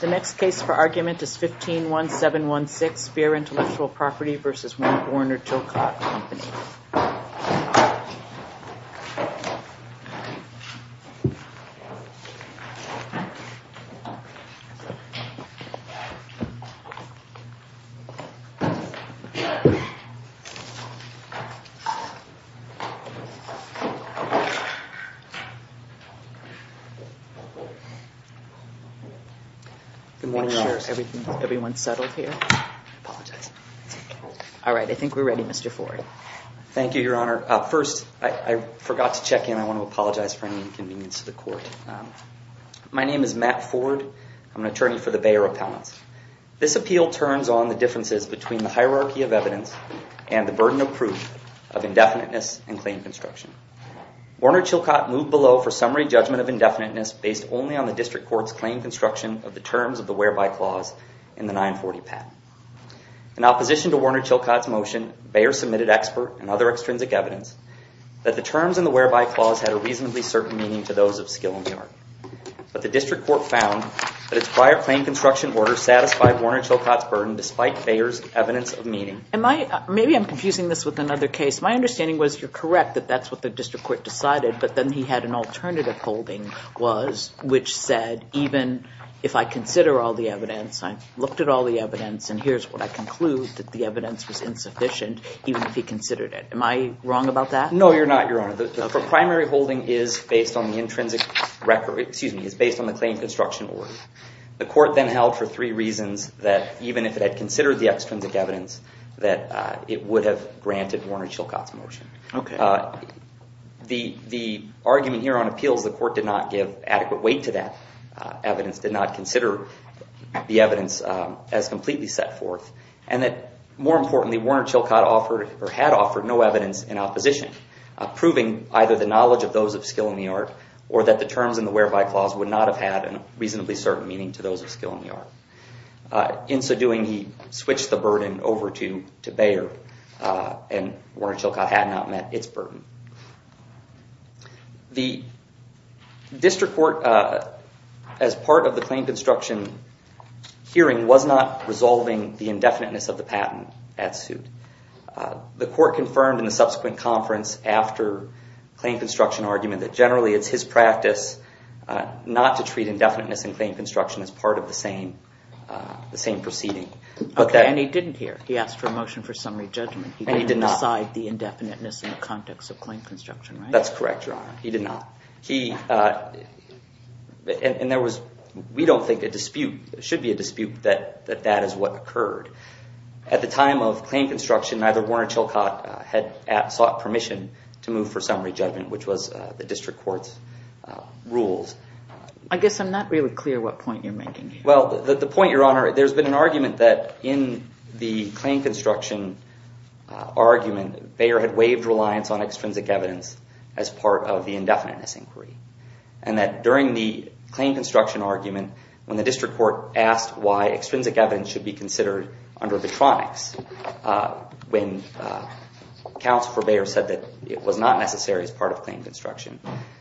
The next case for argument is 151716, Bearer Intellectual Property v. Warner Chilcott Company. Make sure everyone's settled here. I apologize. All right, I think we're ready, Mr. Ford. Thank you, Your Honor. First, I forgot to check in. I want to apologize for any inconvenience to the court. My name is Matt Ford. I'm an attorney for the Bearer Appellants. This appeal turns on the differences between the hierarchy of evidence and the burden of proof of indefiniteness and claim construction. Warner Chilcott moved below for summary judgment of indefiniteness based only on the district court's claim construction of the terms of the whereby clause in the 940 patent. In opposition to Warner Chilcott's motion, Bearer submitted expert and other extrinsic evidence that the terms in the whereby clause had a reasonably certain meaning to those of skill and chart. But the district court found that its prior claim construction order satisfied Warner Chilcott's burden despite Bearer's evidence of meaning. Maybe I'm confusing this with another case. My understanding was you're correct that that's what the district court decided, but then he had an alternative holding, which said even if I consider all the evidence, I looked at all the evidence, and here's what I conclude, that the evidence was insufficient even if he considered it. Am I wrong about that? No, you're not, Your Honor. The primary holding is based on the intrinsic record, excuse me, is based on the claim construction order. The court then held for three reasons that even if it had considered the extrinsic evidence, that it would have granted Warner Chilcott's motion. The argument here on appeals, the court did not give adequate weight to that evidence, did not consider the evidence as completely set forth, and that more importantly, Warner Chilcott had offered no evidence in opposition, proving either the knowledge of those of skill in the art or that the terms in the whereby clause would not have had a reasonably certain meaning to those of skill in the art. In so doing, he switched the burden over to Bearer, and Warner Chilcott had not met its burden. The district court, as part of the claim construction hearing, was not resolving the indefiniteness of the patent at suit. The court confirmed in the subsequent conference after claim construction argument that generally it's his practice not to treat indefiniteness in claim construction as part of the same proceeding. Okay, and he didn't hear. He asked for a motion for summary judgment. And he did not. He didn't decide the indefiniteness in the context of claim construction, right? That's correct, Your Honor. He did not. And there was, we don't think a dispute, there should be a dispute that that is what occurred. At the time of claim construction, neither Warner Chilcott had sought permission to move for summary judgment, which was the district court's rules. I guess I'm not really clear what point you're making here. Well, the point, Your Honor, there's been an argument that in the claim construction argument, Bearer had waived reliance on extrinsic evidence as part of the indefiniteness inquiry. And that during the claim construction argument, when the district court asked why extrinsic evidence should be considered under vetronics, when Counsel for Bearer said that it was not necessary as part of claim construction,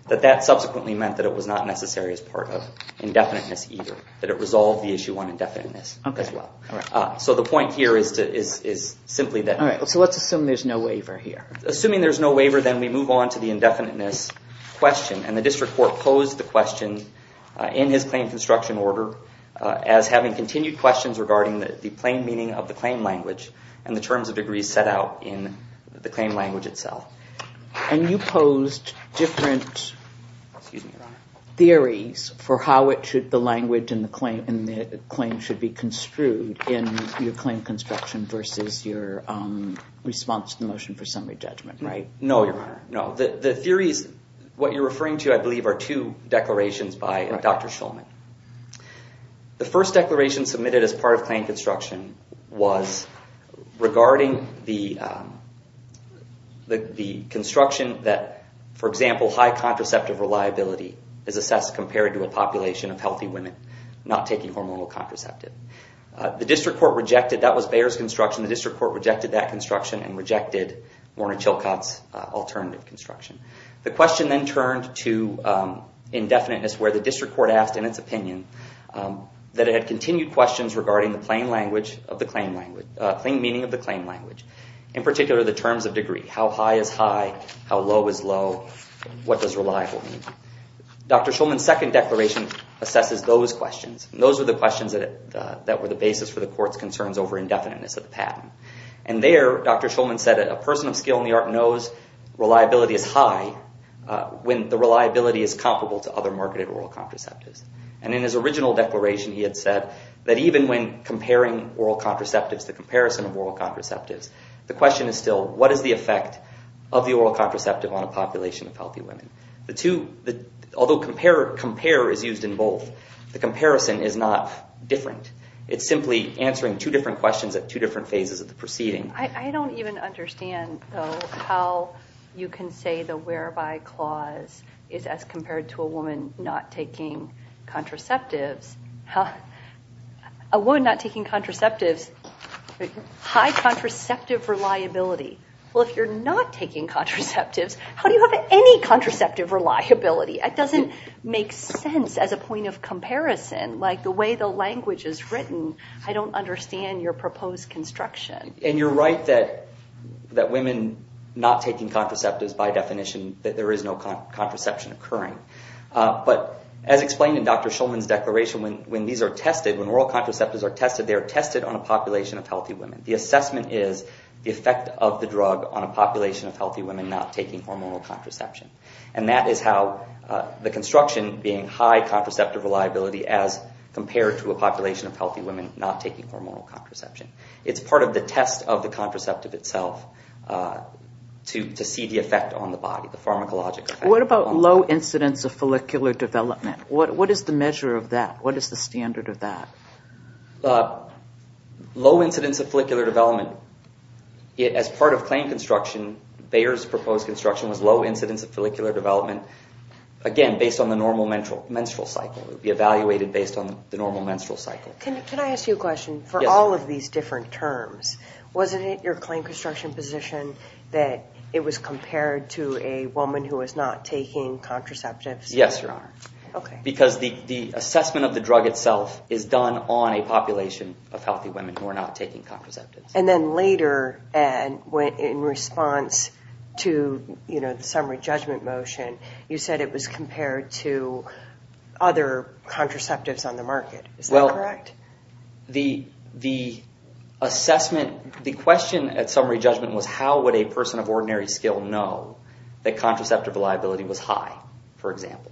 that that subsequently meant that it was not necessary as part of indefiniteness either, that it resolved the issue on indefiniteness as well. So the point here is simply that. All right. So let's assume there's no waiver here. Assuming there's no waiver, then we move on to the indefiniteness question. And the district court posed the question in his claim construction order as having continued questions regarding the plain meaning of the claim language and the terms of degrees set out in the claim language itself. And you posed different theories for how the language and the claim should be construed in your claim construction versus your response to the motion for summary judgment, right? No, Your Honor. No. The theories, what you're referring to, I believe, are two declarations by Dr. Shulman. The first declaration submitted as part of claim construction was regarding the construction that, for example, high contraceptive reliability is assessed compared to a population of healthy women not taking hormonal contraceptive. The district court rejected. That was Bearer's construction. The district court rejected that construction and rejected Warner-Chilcott's alternative construction. The question then turned to indefiniteness where the district court asked in its opinion that it had continued questions regarding the plain meaning of the claim language, in particular, the terms of degree. How high is high? How low is low? What does reliable mean? Dr. Shulman's second declaration assesses those questions. And those are the questions that were the basis for the court's concerns over indefiniteness of the patent. And there, Dr. Shulman said, a person of skill in the art knows reliability is high when the reliability is comparable to other marketed oral contraceptives. And in his original declaration, he had said that even when comparing oral contraceptives, the comparison of oral contraceptives, the question is still, what is the effect of the oral contraceptive on a population of healthy women? Although compare is used in both, the comparison is not different. It's simply answering two different questions at two different phases of the proceeding. I don't even understand how you can say the whereby clause is as compared to a woman not taking contraceptives. A woman not taking contraceptives, high contraceptive reliability. Well, if you're not taking contraceptives, how do you have any contraceptive reliability? It doesn't make sense as a point of comparison. Like the way the language is written, I don't understand your proposed construction. And you're right that women not taking contraceptives, by definition, that there is no contraception occurring. But as explained in Dr. Shulman's declaration, when these are tested, when oral contraceptives are tested, they are tested on a population of healthy women. The assessment is the effect of the drug on a population of healthy women not taking hormonal contraception. And that is how the construction being high contraceptive reliability as compared to a population of healthy women not taking hormonal contraception. It's part of the test of the contraceptive itself to see the effect on the body, the pharmacologic effect. What about low incidence of follicular development? What is the measure of that? What is the standard of that? Low incidence of follicular development. As part of claim construction, Bayer's proposed construction was low incidence of follicular development. Again, based on the normal menstrual cycle. It would be evaluated based on the normal menstrual cycle. Can I ask you a question? Yes. For all of these different terms, wasn't it your claim construction position that it was compared to a woman who was not taking contraceptives? Yes, Your Honor. Okay. Because the assessment of the drug itself is done on a population of healthy women who are not taking contraceptives. Then later, in response to the summary judgment motion, you said it was compared to other contraceptives on the market. Is that correct? The question at summary judgment was how would a person of ordinary skill know that contraceptive reliability was high, for example.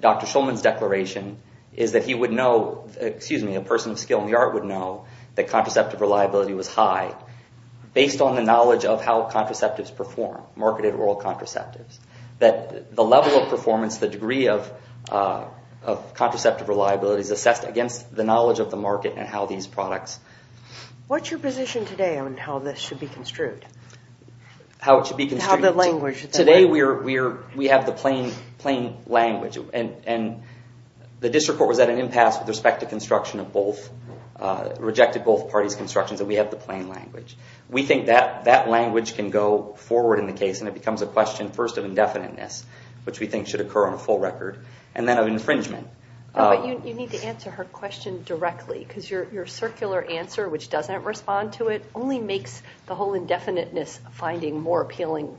Dr. Shulman's declaration is that a person of skill in the art would know that contraceptive reliability was high based on the knowledge of how contraceptives perform, marketed oral contraceptives. The level of performance, the degree of contraceptive reliability is assessed against the knowledge of the market and how these products... What's your position today on how this should be construed? How it should be construed? How the language... Today, we have the plain language. The district court was at an impasse with respect to construction of both... Rejected both parties' constructions, and we have the plain language. We think that language can go forward in the case, and it becomes a question, first, of indefiniteness, which we think should occur on a full record, and then of infringement. You need to answer her question directly, because your circular answer, which doesn't respond to it, only makes the whole indefiniteness finding more appealing.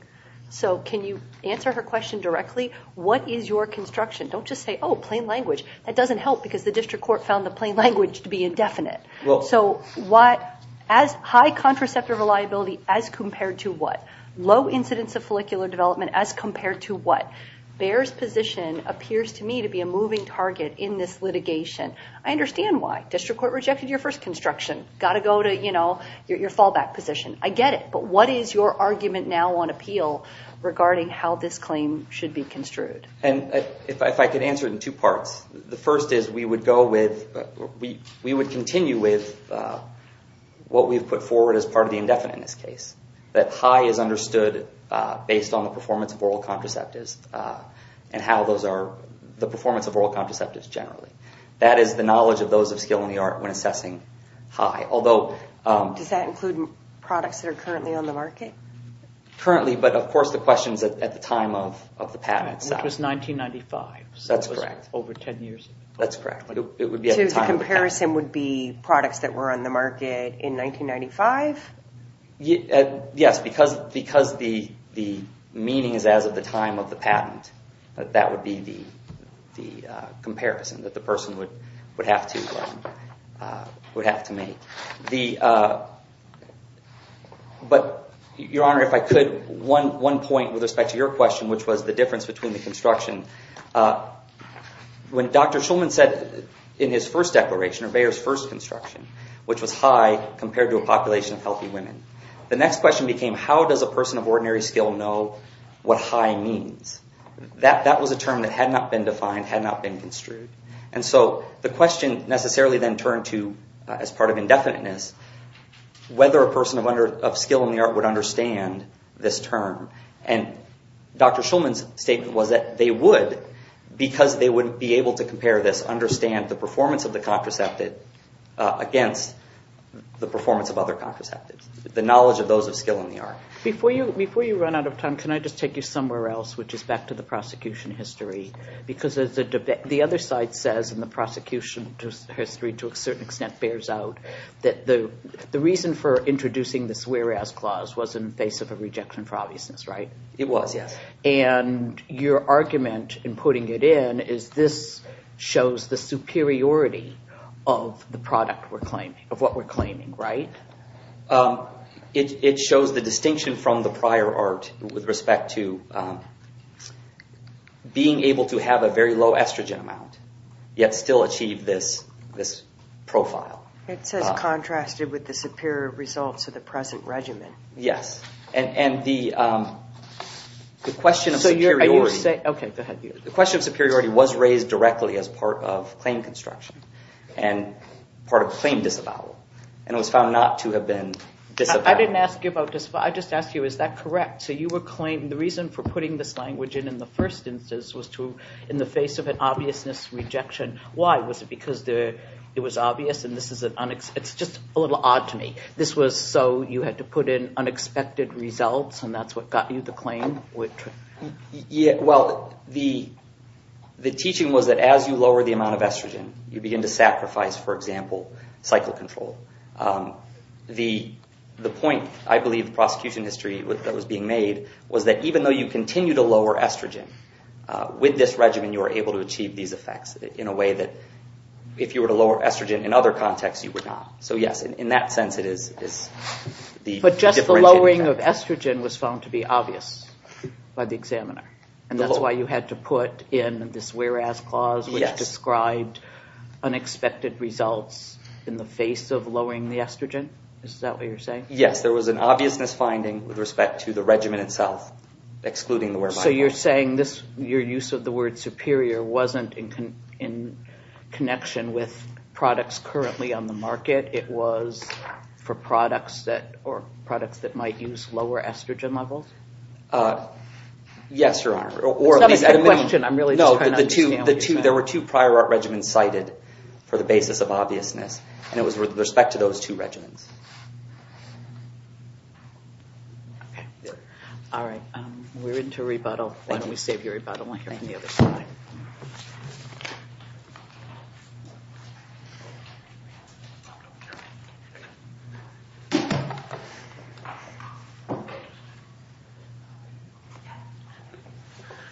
Can you answer her question directly? What is your construction? Don't just say, oh, plain language. That doesn't help, because the district court found the plain language to be indefinite. High contraceptive reliability as compared to what? Low incidence of follicular development as compared to what? Bayer's position appears to me to be a moving target in this litigation. I understand why. District court rejected your first construction. Got to go to your fallback position. I get it. But what is your argument now on appeal regarding how this claim should be construed? If I could answer it in two parts, the first is we would continue with what we've put forward as part of the indefiniteness case, that high is understood based on the performance of oral contraceptives and how those are... the performance of oral contraceptives generally. That is the knowledge of those of skill in the art when assessing high. Does that include products that are currently on the market? Currently, but of course the question is at the time of the patent itself. It was 1995. That's correct. So it was over 10 years ago. That's correct. So the comparison would be products that were on the market in 1995? Yes, because the meaning is as of the time of the patent. That would be the comparison that the person would have to make. Your Honor, if I could, one point with respect to your question, which was the difference between the construction. When Dr. Shulman said in his first declaration, or Bayer's first construction, which was high compared to a population of healthy women, the next question became how does a person of ordinary skill know what high means? That was a term that had not been defined, had not been construed. And so the question necessarily then turned to, as part of indefiniteness, whether a person of skill in the art would understand this term. And Dr. Shulman's statement was that they would because they would be able to compare this, understand the performance of the contraceptive against the performance of other contraceptives, the knowledge of those of skill in the art. Before you run out of time, can I just take you somewhere else, which is back to the prosecution history? Because the other side says, and the prosecution history to a certain extent bears out, that the reason for introducing this whereas clause was in the face of a rejection for obviousness, right? It was, yes. And your argument in putting it in is this shows the superiority of the product we're claiming, of what we're claiming, right? It shows the distinction from the prior art with respect to being able to have a very low estrogen amount yet still achieve this profile. It says contrasted with the superior results of the present regimen. Yes. And the question of superiority was raised directly as part of claim construction and part of claim disavowal. And it was found not to have been disavowed. I didn't ask you about disavowal. I just asked you, is that correct? So the reason for putting this language in in the first instance was in the face of an obviousness rejection. Why? Was it because it was obvious? It's just a little odd to me. This was so you had to put in unexpected results, and that's what got you the claim? Well, the teaching was that as you lower the amount of estrogen, you begin to sacrifice, for example, cycle control. The point, I believe, in the prosecution history that was being made was that even though you continue to lower estrogen, with this regimen you are able to achieve these effects in a way that if you were to lower estrogen in other contexts, you would not. So, yes, in that sense it is the differential effect. But just the lowering of estrogen was found to be obvious by the examiner. And that's why you had to put in this whereas clause which described unexpected results in the face of lowering the estrogen? Is that what you're saying? Yes. There was an obviousness finding with respect to the regimen itself excluding the whereby clause. So you're saying your use of the word superior wasn't in connection with products currently on the market. It was for products that might use lower estrogen levels? Yes, Your Honor. That's not a good question. I'm really just trying to understand what you're saying. No, there were two prior art regimens cited for the basis of obviousness, and it was with respect to those two regimens. Okay. All right. We're into rebuttal. Why don't we save your rebuttal and we'll hear from the other side.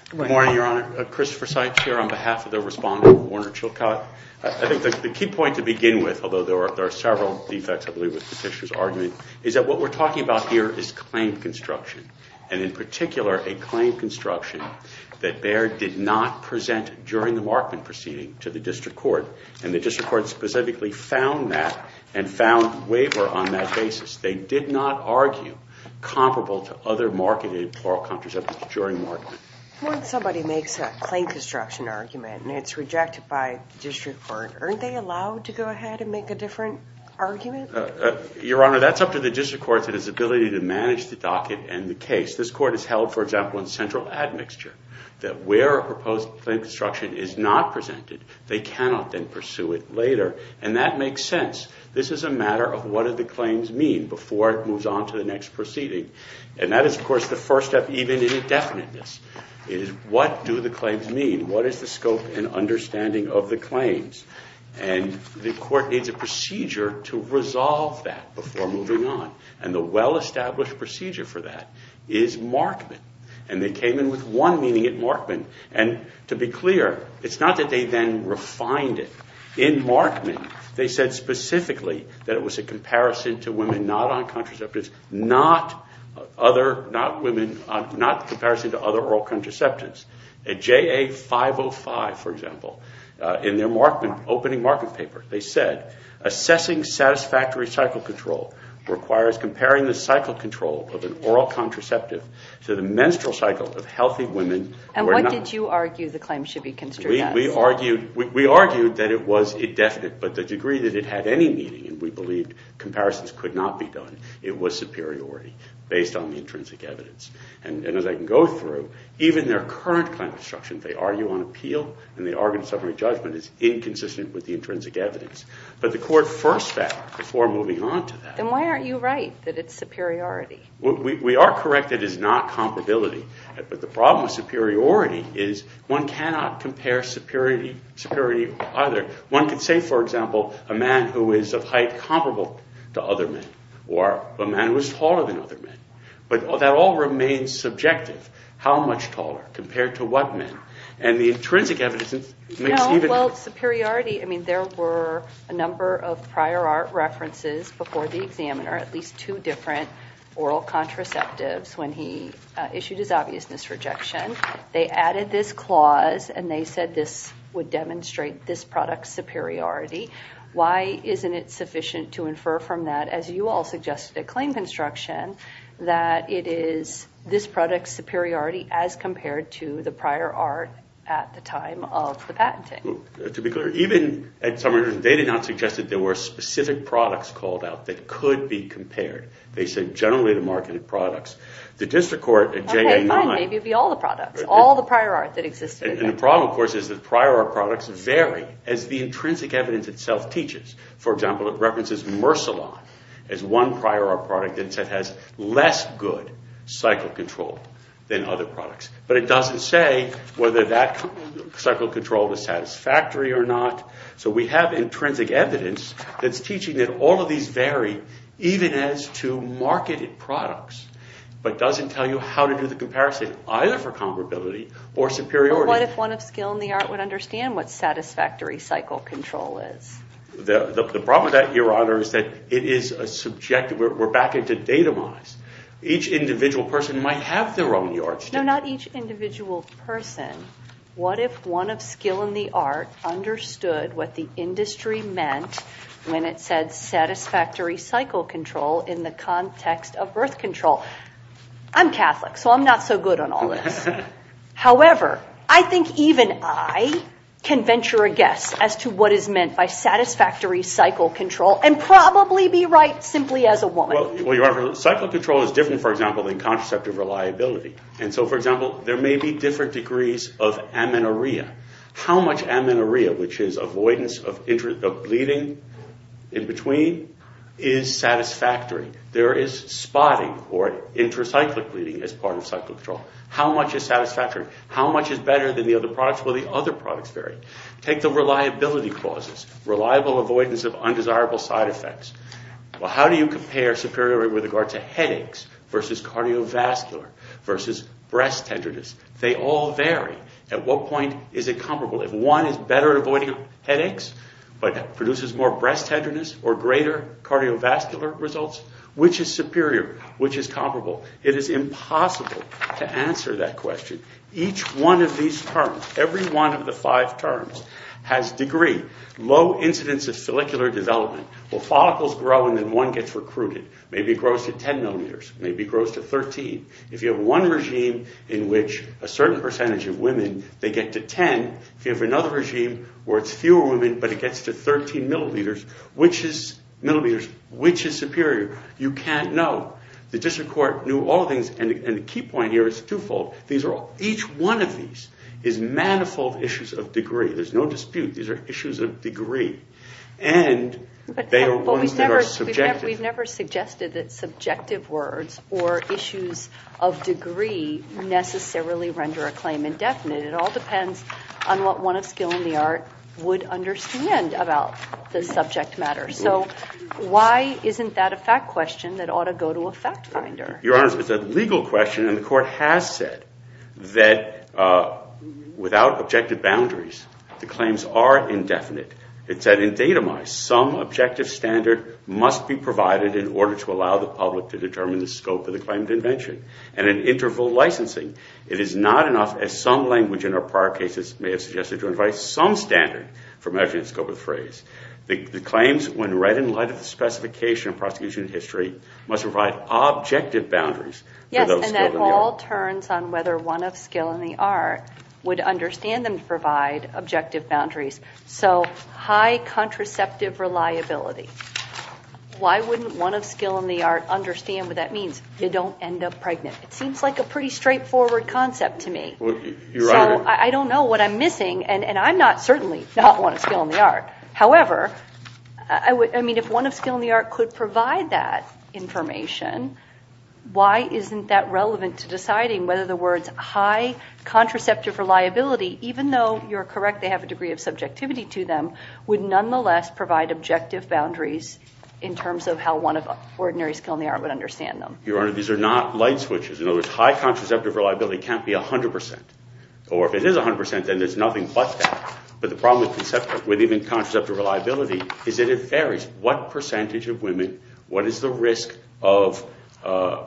Good morning, Your Honor. Christopher Sykes here on behalf of the respondent, Warner Chilcott. I think the key point to begin with, although there are several defects, I believe, with Petitioner's argument, is that what we're talking about here is claim construction. And in particular, a claim construction that Baird did not present during the Markman proceeding to the district court. And the district court specifically found that and found waiver on that basis. They did not argue comparable to other marketed plural contraceptives during Markman. When somebody makes a claim construction argument and it's rejected by the district court, aren't they allowed to go ahead and make a different argument? Your Honor, that's up to the district court and its ability to manage the docket and the case. This court has held, for example, in central admixture that where a proposed claim construction is not presented, they cannot then pursue it later. And that makes sense. This is a matter of what do the claims mean before it moves on to the next proceeding. And that is, of course, the first step even in indefiniteness, is what do the claims mean? What is the scope and understanding of the claims? And the court needs a procedure to resolve that before moving on. And the well-established procedure for that is Markman. And they came in with one meeting at Markman. And to be clear, it's not that they then refined it. In Markman, they said specifically that it was a comparison to women not on contraceptives, not other women, not comparison to other oral contraceptives. At JA505, for example, in their opening Markman paper, they said, assessing satisfactory cycle control requires comparing the cycle control of an oral contraceptive to the menstrual cycle of healthy women who are not. And what did you argue the claim should be construed as? We argued that it was indefinite. But the degree that it had any meaning, and we believed comparisons could not be done, it was superiority based on the intrinsic evidence. And as I can go through, even their current kind of instruction, they argue on appeal and they argue in a summary judgment is inconsistent with the intrinsic evidence. But the court first fact before moving on to that. Then why aren't you right that it's superiority? We are correct that it is not comparability. But the problem with superiority is one cannot compare superiority to other. One could say, for example, a man who is of height comparable to other men or a man who is taller than other men. But that all remains subjective. How much taller compared to what men? And the intrinsic evidence makes even... No, well, superiority, I mean, there were a number of prior art references before the examiner, at least two different oral contraceptives when he issued his obviousness rejection. They added this clause and they said this would demonstrate this product's superiority. Why isn't it sufficient to infer from that, as you all suggested at claim construction, that it is this product's superiority as compared to the prior art at the time of the patenting? To be clear, even at summary judgment, they did not suggest that there were specific products called out that could be compared. They said generally the marketed products. The district court at January 9... Okay, fine, maybe it would be all the products, all the prior art that existed. And the problem, of course, is that prior art products vary as the intrinsic evidence itself teaches. For example, it references Myrcelin as one prior art product that has less good cycle control than other products. But it doesn't say whether that cycle control is satisfactory or not. So we have intrinsic evidence that's teaching that all of these vary even as to marketed products, but doesn't tell you how to do the comparison, either for comparability or superiority. But what if one of skill in the art would understand what satisfactory cycle control is? The problem with that, Your Honor, is that it is subjective. We're back into data mice. Each individual person might have their own yardstick. No, not each individual person. What if one of skill in the art understood what the industry meant when it said satisfactory cycle control in the context of birth control? I'm Catholic, so I'm not so good on all this. However, I think even I can venture a guess as to what is meant by satisfactory cycle control and probably be right simply as a woman. Well, Your Honor, cycle control is different, for example, than contraceptive reliability. And so, for example, there may be different degrees of amenorrhea. How much amenorrhea, which is avoidance of bleeding in between, is satisfactory? There is spotting or intracyclic bleeding as part of cycle control. How much is satisfactory? How much is better than the other products? Well, the other products vary. Take the reliability clauses, reliable avoidance of undesirable side effects. Well, how do you compare superiority with regard to headaches versus cardiovascular versus breast tenderness? They all vary. At what point is it comparable if one is better at avoiding headaches but produces more breast tenderness or greater cardiovascular results? Which is superior? Which is comparable? It is impossible to answer that question. Each one of these terms, every one of the five terms, has degree. Low incidence of follicular development. Well, follicles grow and then one gets recruited. Maybe it grows to 10 milliliters. Maybe it grows to 13. If you have one regime in which a certain percentage of women, they get to 10, if you have another regime where it's fewer women but it gets to 13 milliliters, which is superior? You can't know. The district court knew all things. And the key point here is twofold. Each one of these is manifold issues of degree. There's no dispute. These are issues of degree, and they are ones that are subjective. But we've never suggested that subjective words or issues of degree necessarily render a claim indefinite. It all depends on what one of skill in the art would understand about the subject matter. So why isn't that a fact question that ought to go to a fact finder? Your Honor, it's a legal question, and the court has said that without objective boundaries, the claims are indefinite. It said in datumized, some objective standard must be provided in order to allow the public to determine the scope of the claim of invention. And in interval licensing, it is not enough, as some language in our prior cases may have suggested, to invite some standard for measuring the scope of the phrase. The claims, when read in light of the specification of prosecution in history, must provide objective boundaries. Yes, and that all turns on whether one of skill in the art would understand them to provide objective boundaries. So high contraceptive reliability. Why wouldn't one of skill in the art understand what that means? You don't end up pregnant. It seems like a pretty straightforward concept to me. Your Honor. So I don't know what I'm missing, and I'm not certainly not one of skill in the art. However, I mean, if one of skill in the art could provide that information, why isn't that relevant to deciding whether the words high contraceptive reliability, even though you're correct, they have a degree of subjectivity to them, would nonetheless provide objective boundaries in terms of how one of ordinary skill in the art would understand them? Your Honor, these are not light switches. In other words, high contraceptive reliability can't be 100%. Or if it is 100%, then there's nothing but that. But the problem with contraceptive reliability is that it varies. What percentage of women, what is the risk of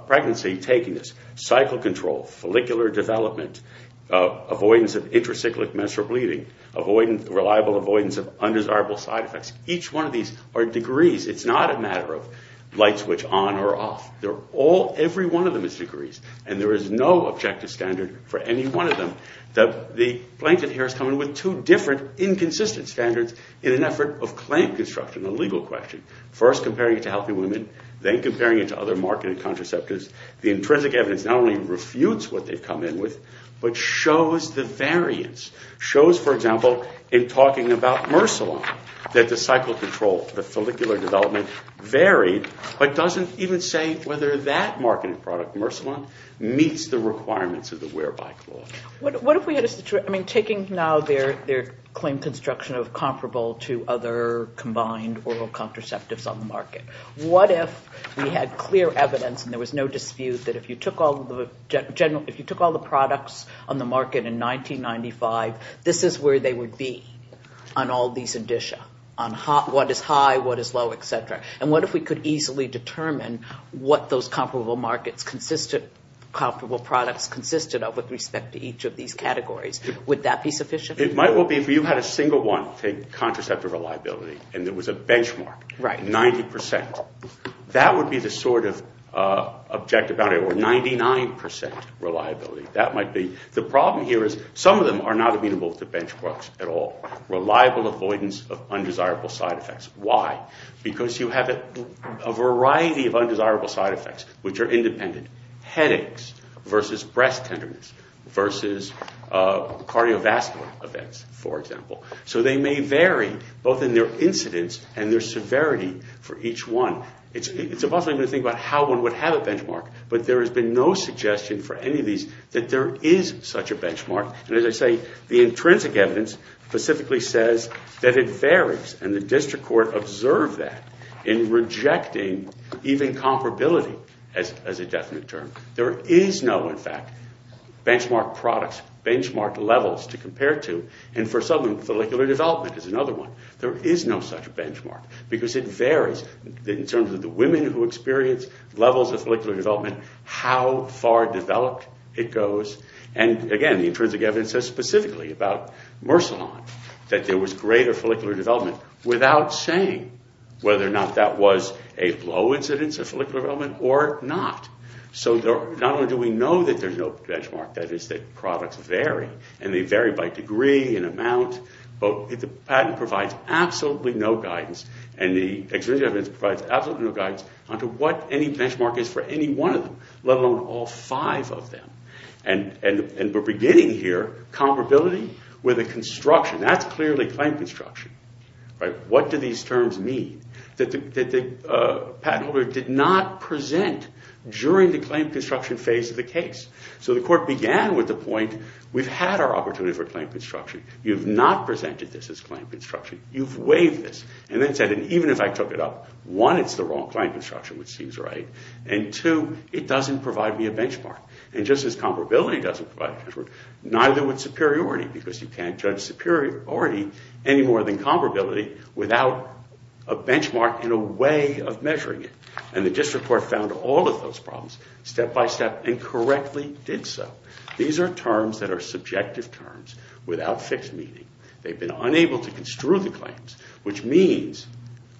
pregnancy taking this? Cycle control, follicular development, avoidance of intracyclic menstrual bleeding, reliable avoidance of undesirable side effects. Each one of these are degrees. It's not a matter of light switch on or off. Every one of them is degrees, and there is no objective standard for any one of them. The blanket here is coming with two different inconsistent standards in an effort of claim construction, a legal question. First, comparing it to healthy women, then comparing it to other marketed contraceptives. The intrinsic evidence not only refutes what they've come in with, but shows the variance. Shows, for example, in talking about Myrcelin, that the cycle control, the follicular development varied, but doesn't even say whether that marketed product, Myrcelin, meets the requirements of the whereby clause. Taking now their claim construction of comparable to other combined oral contraceptives on the market, what if we had clear evidence, and there was no dispute, that if you took all the products on the market in 1995, this is where they would be on all these indicia, on what is high, what is low, et cetera. And what if we could easily determine what those comparable products consisted of with respect to each of these categories? Would that be sufficient? It might well be if you had a single one, take contraceptive reliability, and there was a benchmark, 90%. That would be the sort of objective boundary, or 99% reliability. That might be. The problem here is some of them are not amenable to benchmarks at all. Reliable avoidance of undesirable side effects. Why? Because you have a variety of undesirable side effects, which are independent. Headaches versus breast tenderness, versus cardiovascular events, for example. So they may vary, both in their incidence and their severity for each one. It's impossible to think about how one would have a benchmark, but there has been no suggestion for any of these that there is such a benchmark. And as I say, the intrinsic evidence specifically says that it varies, and the district court observed that in rejecting even comparability as a definite term. There is no, in fact, benchmark products, benchmark levels to compare to. And for some, follicular development is another one. There is no such benchmark, because it varies in terms of the women who experience levels of follicular development, how far developed it goes. And again, the intrinsic evidence says specifically about Mersolon that there was greater follicular development without saying whether or not that was a low incidence of follicular development or not. So not only do we know that there's no benchmark, that is that products vary, and they vary by degree and amount, but the patent provides absolutely no guidance, and the extrinsic evidence provides absolutely no guidance on to what any benchmark is for any one of them, let alone all five of them. And we're beginning here, comparability with a construction. That's clearly claim construction. What do these terms mean? The patent holder did not present during the claim construction phase of the case. So the court began with the point, we've had our opportunity for claim construction. You've not presented this as claim construction. You've waived this. And then said, even if I took it up, one, it's the wrong claim construction, which seems right, and two, it doesn't provide me a benchmark. And just as comparability doesn't provide a benchmark, neither would superiority, because you can't judge superiority any more than comparability without a benchmark and a way of measuring it. And the district court found all of those problems step by step and correctly did so. These are terms that are subjective terms without fixed meaning. They've been unable to construe the claims, which means,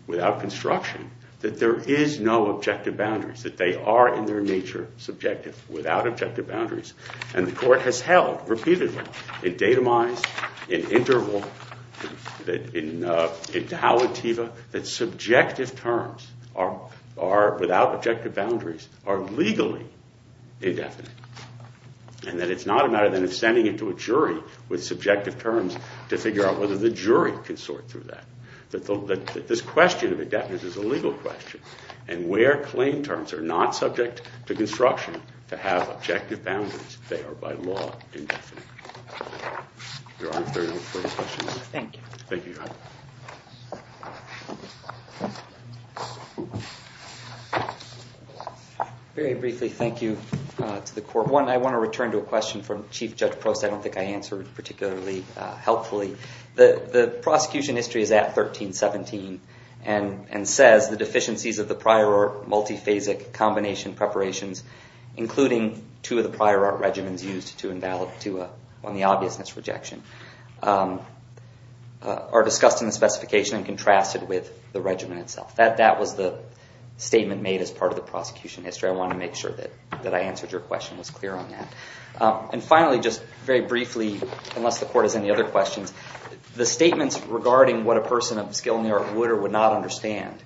without construction, that there is no objective boundaries, that they are, in their nature, subjective, without objective boundaries. And the court has held repeatedly, in datumized, in interval, in tau ativa, that subjective terms are, without objective boundaries, are legally indefinite. And that it's not a matter of sending it to a jury with subjective terms to figure out whether the jury can sort through that. That this question of indefinite is a legal question. And where claim terms are not subject to construction to have objective boundaries, they are, by law, indefinite. Your Honor, if there are no further questions. Thank you. Thank you, Your Honor. Very briefly, thank you to the court. One, I want to return to a question from Chief Judge Prost I don't think I answered particularly helpfully. The prosecution history is at 1317 and says, the deficiencies of the prior art multi-phasic combination preparations, including two of the prior art regimens used on the obviousness rejection, are discussed in the specification and contrasted with the regimen itself. That was the statement made as part of the prosecution history. I want to make sure that I answered your question and was clear on that. And finally, just very briefly, unless the court has any other questions, the statements regarding what a person of skill in the art would or would not understand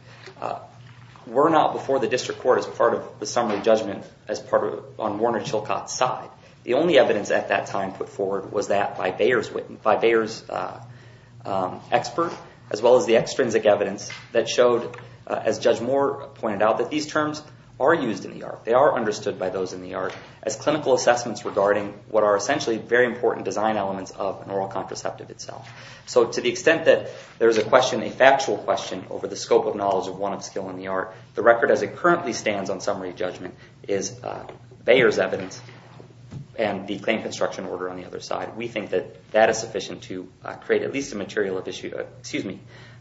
were not before the district court as part of the summary judgment on Warner Chilcott's side. The only evidence at that time put forward was that by Bayer's expert as well as the extrinsic evidence that showed, as Judge Moore pointed out, that these terms are used in the art. They are understood by those in the art as clinical assessments regarding what are essentially very important design elements of an oral contraceptive itself. So to the extent that there is a question, a factual question, over the scope of knowledge of one of skill in the art, the record as it currently stands on summary judgment is Bayer's evidence and the claim construction order on the other side. We think that that is sufficient to create at least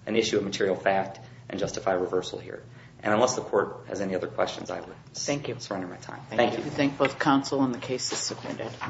an issue of material fact and justify reversal here. And unless the court has any other questions, I would surrender my time. Thank you. I thank both counsel and the case is submitted.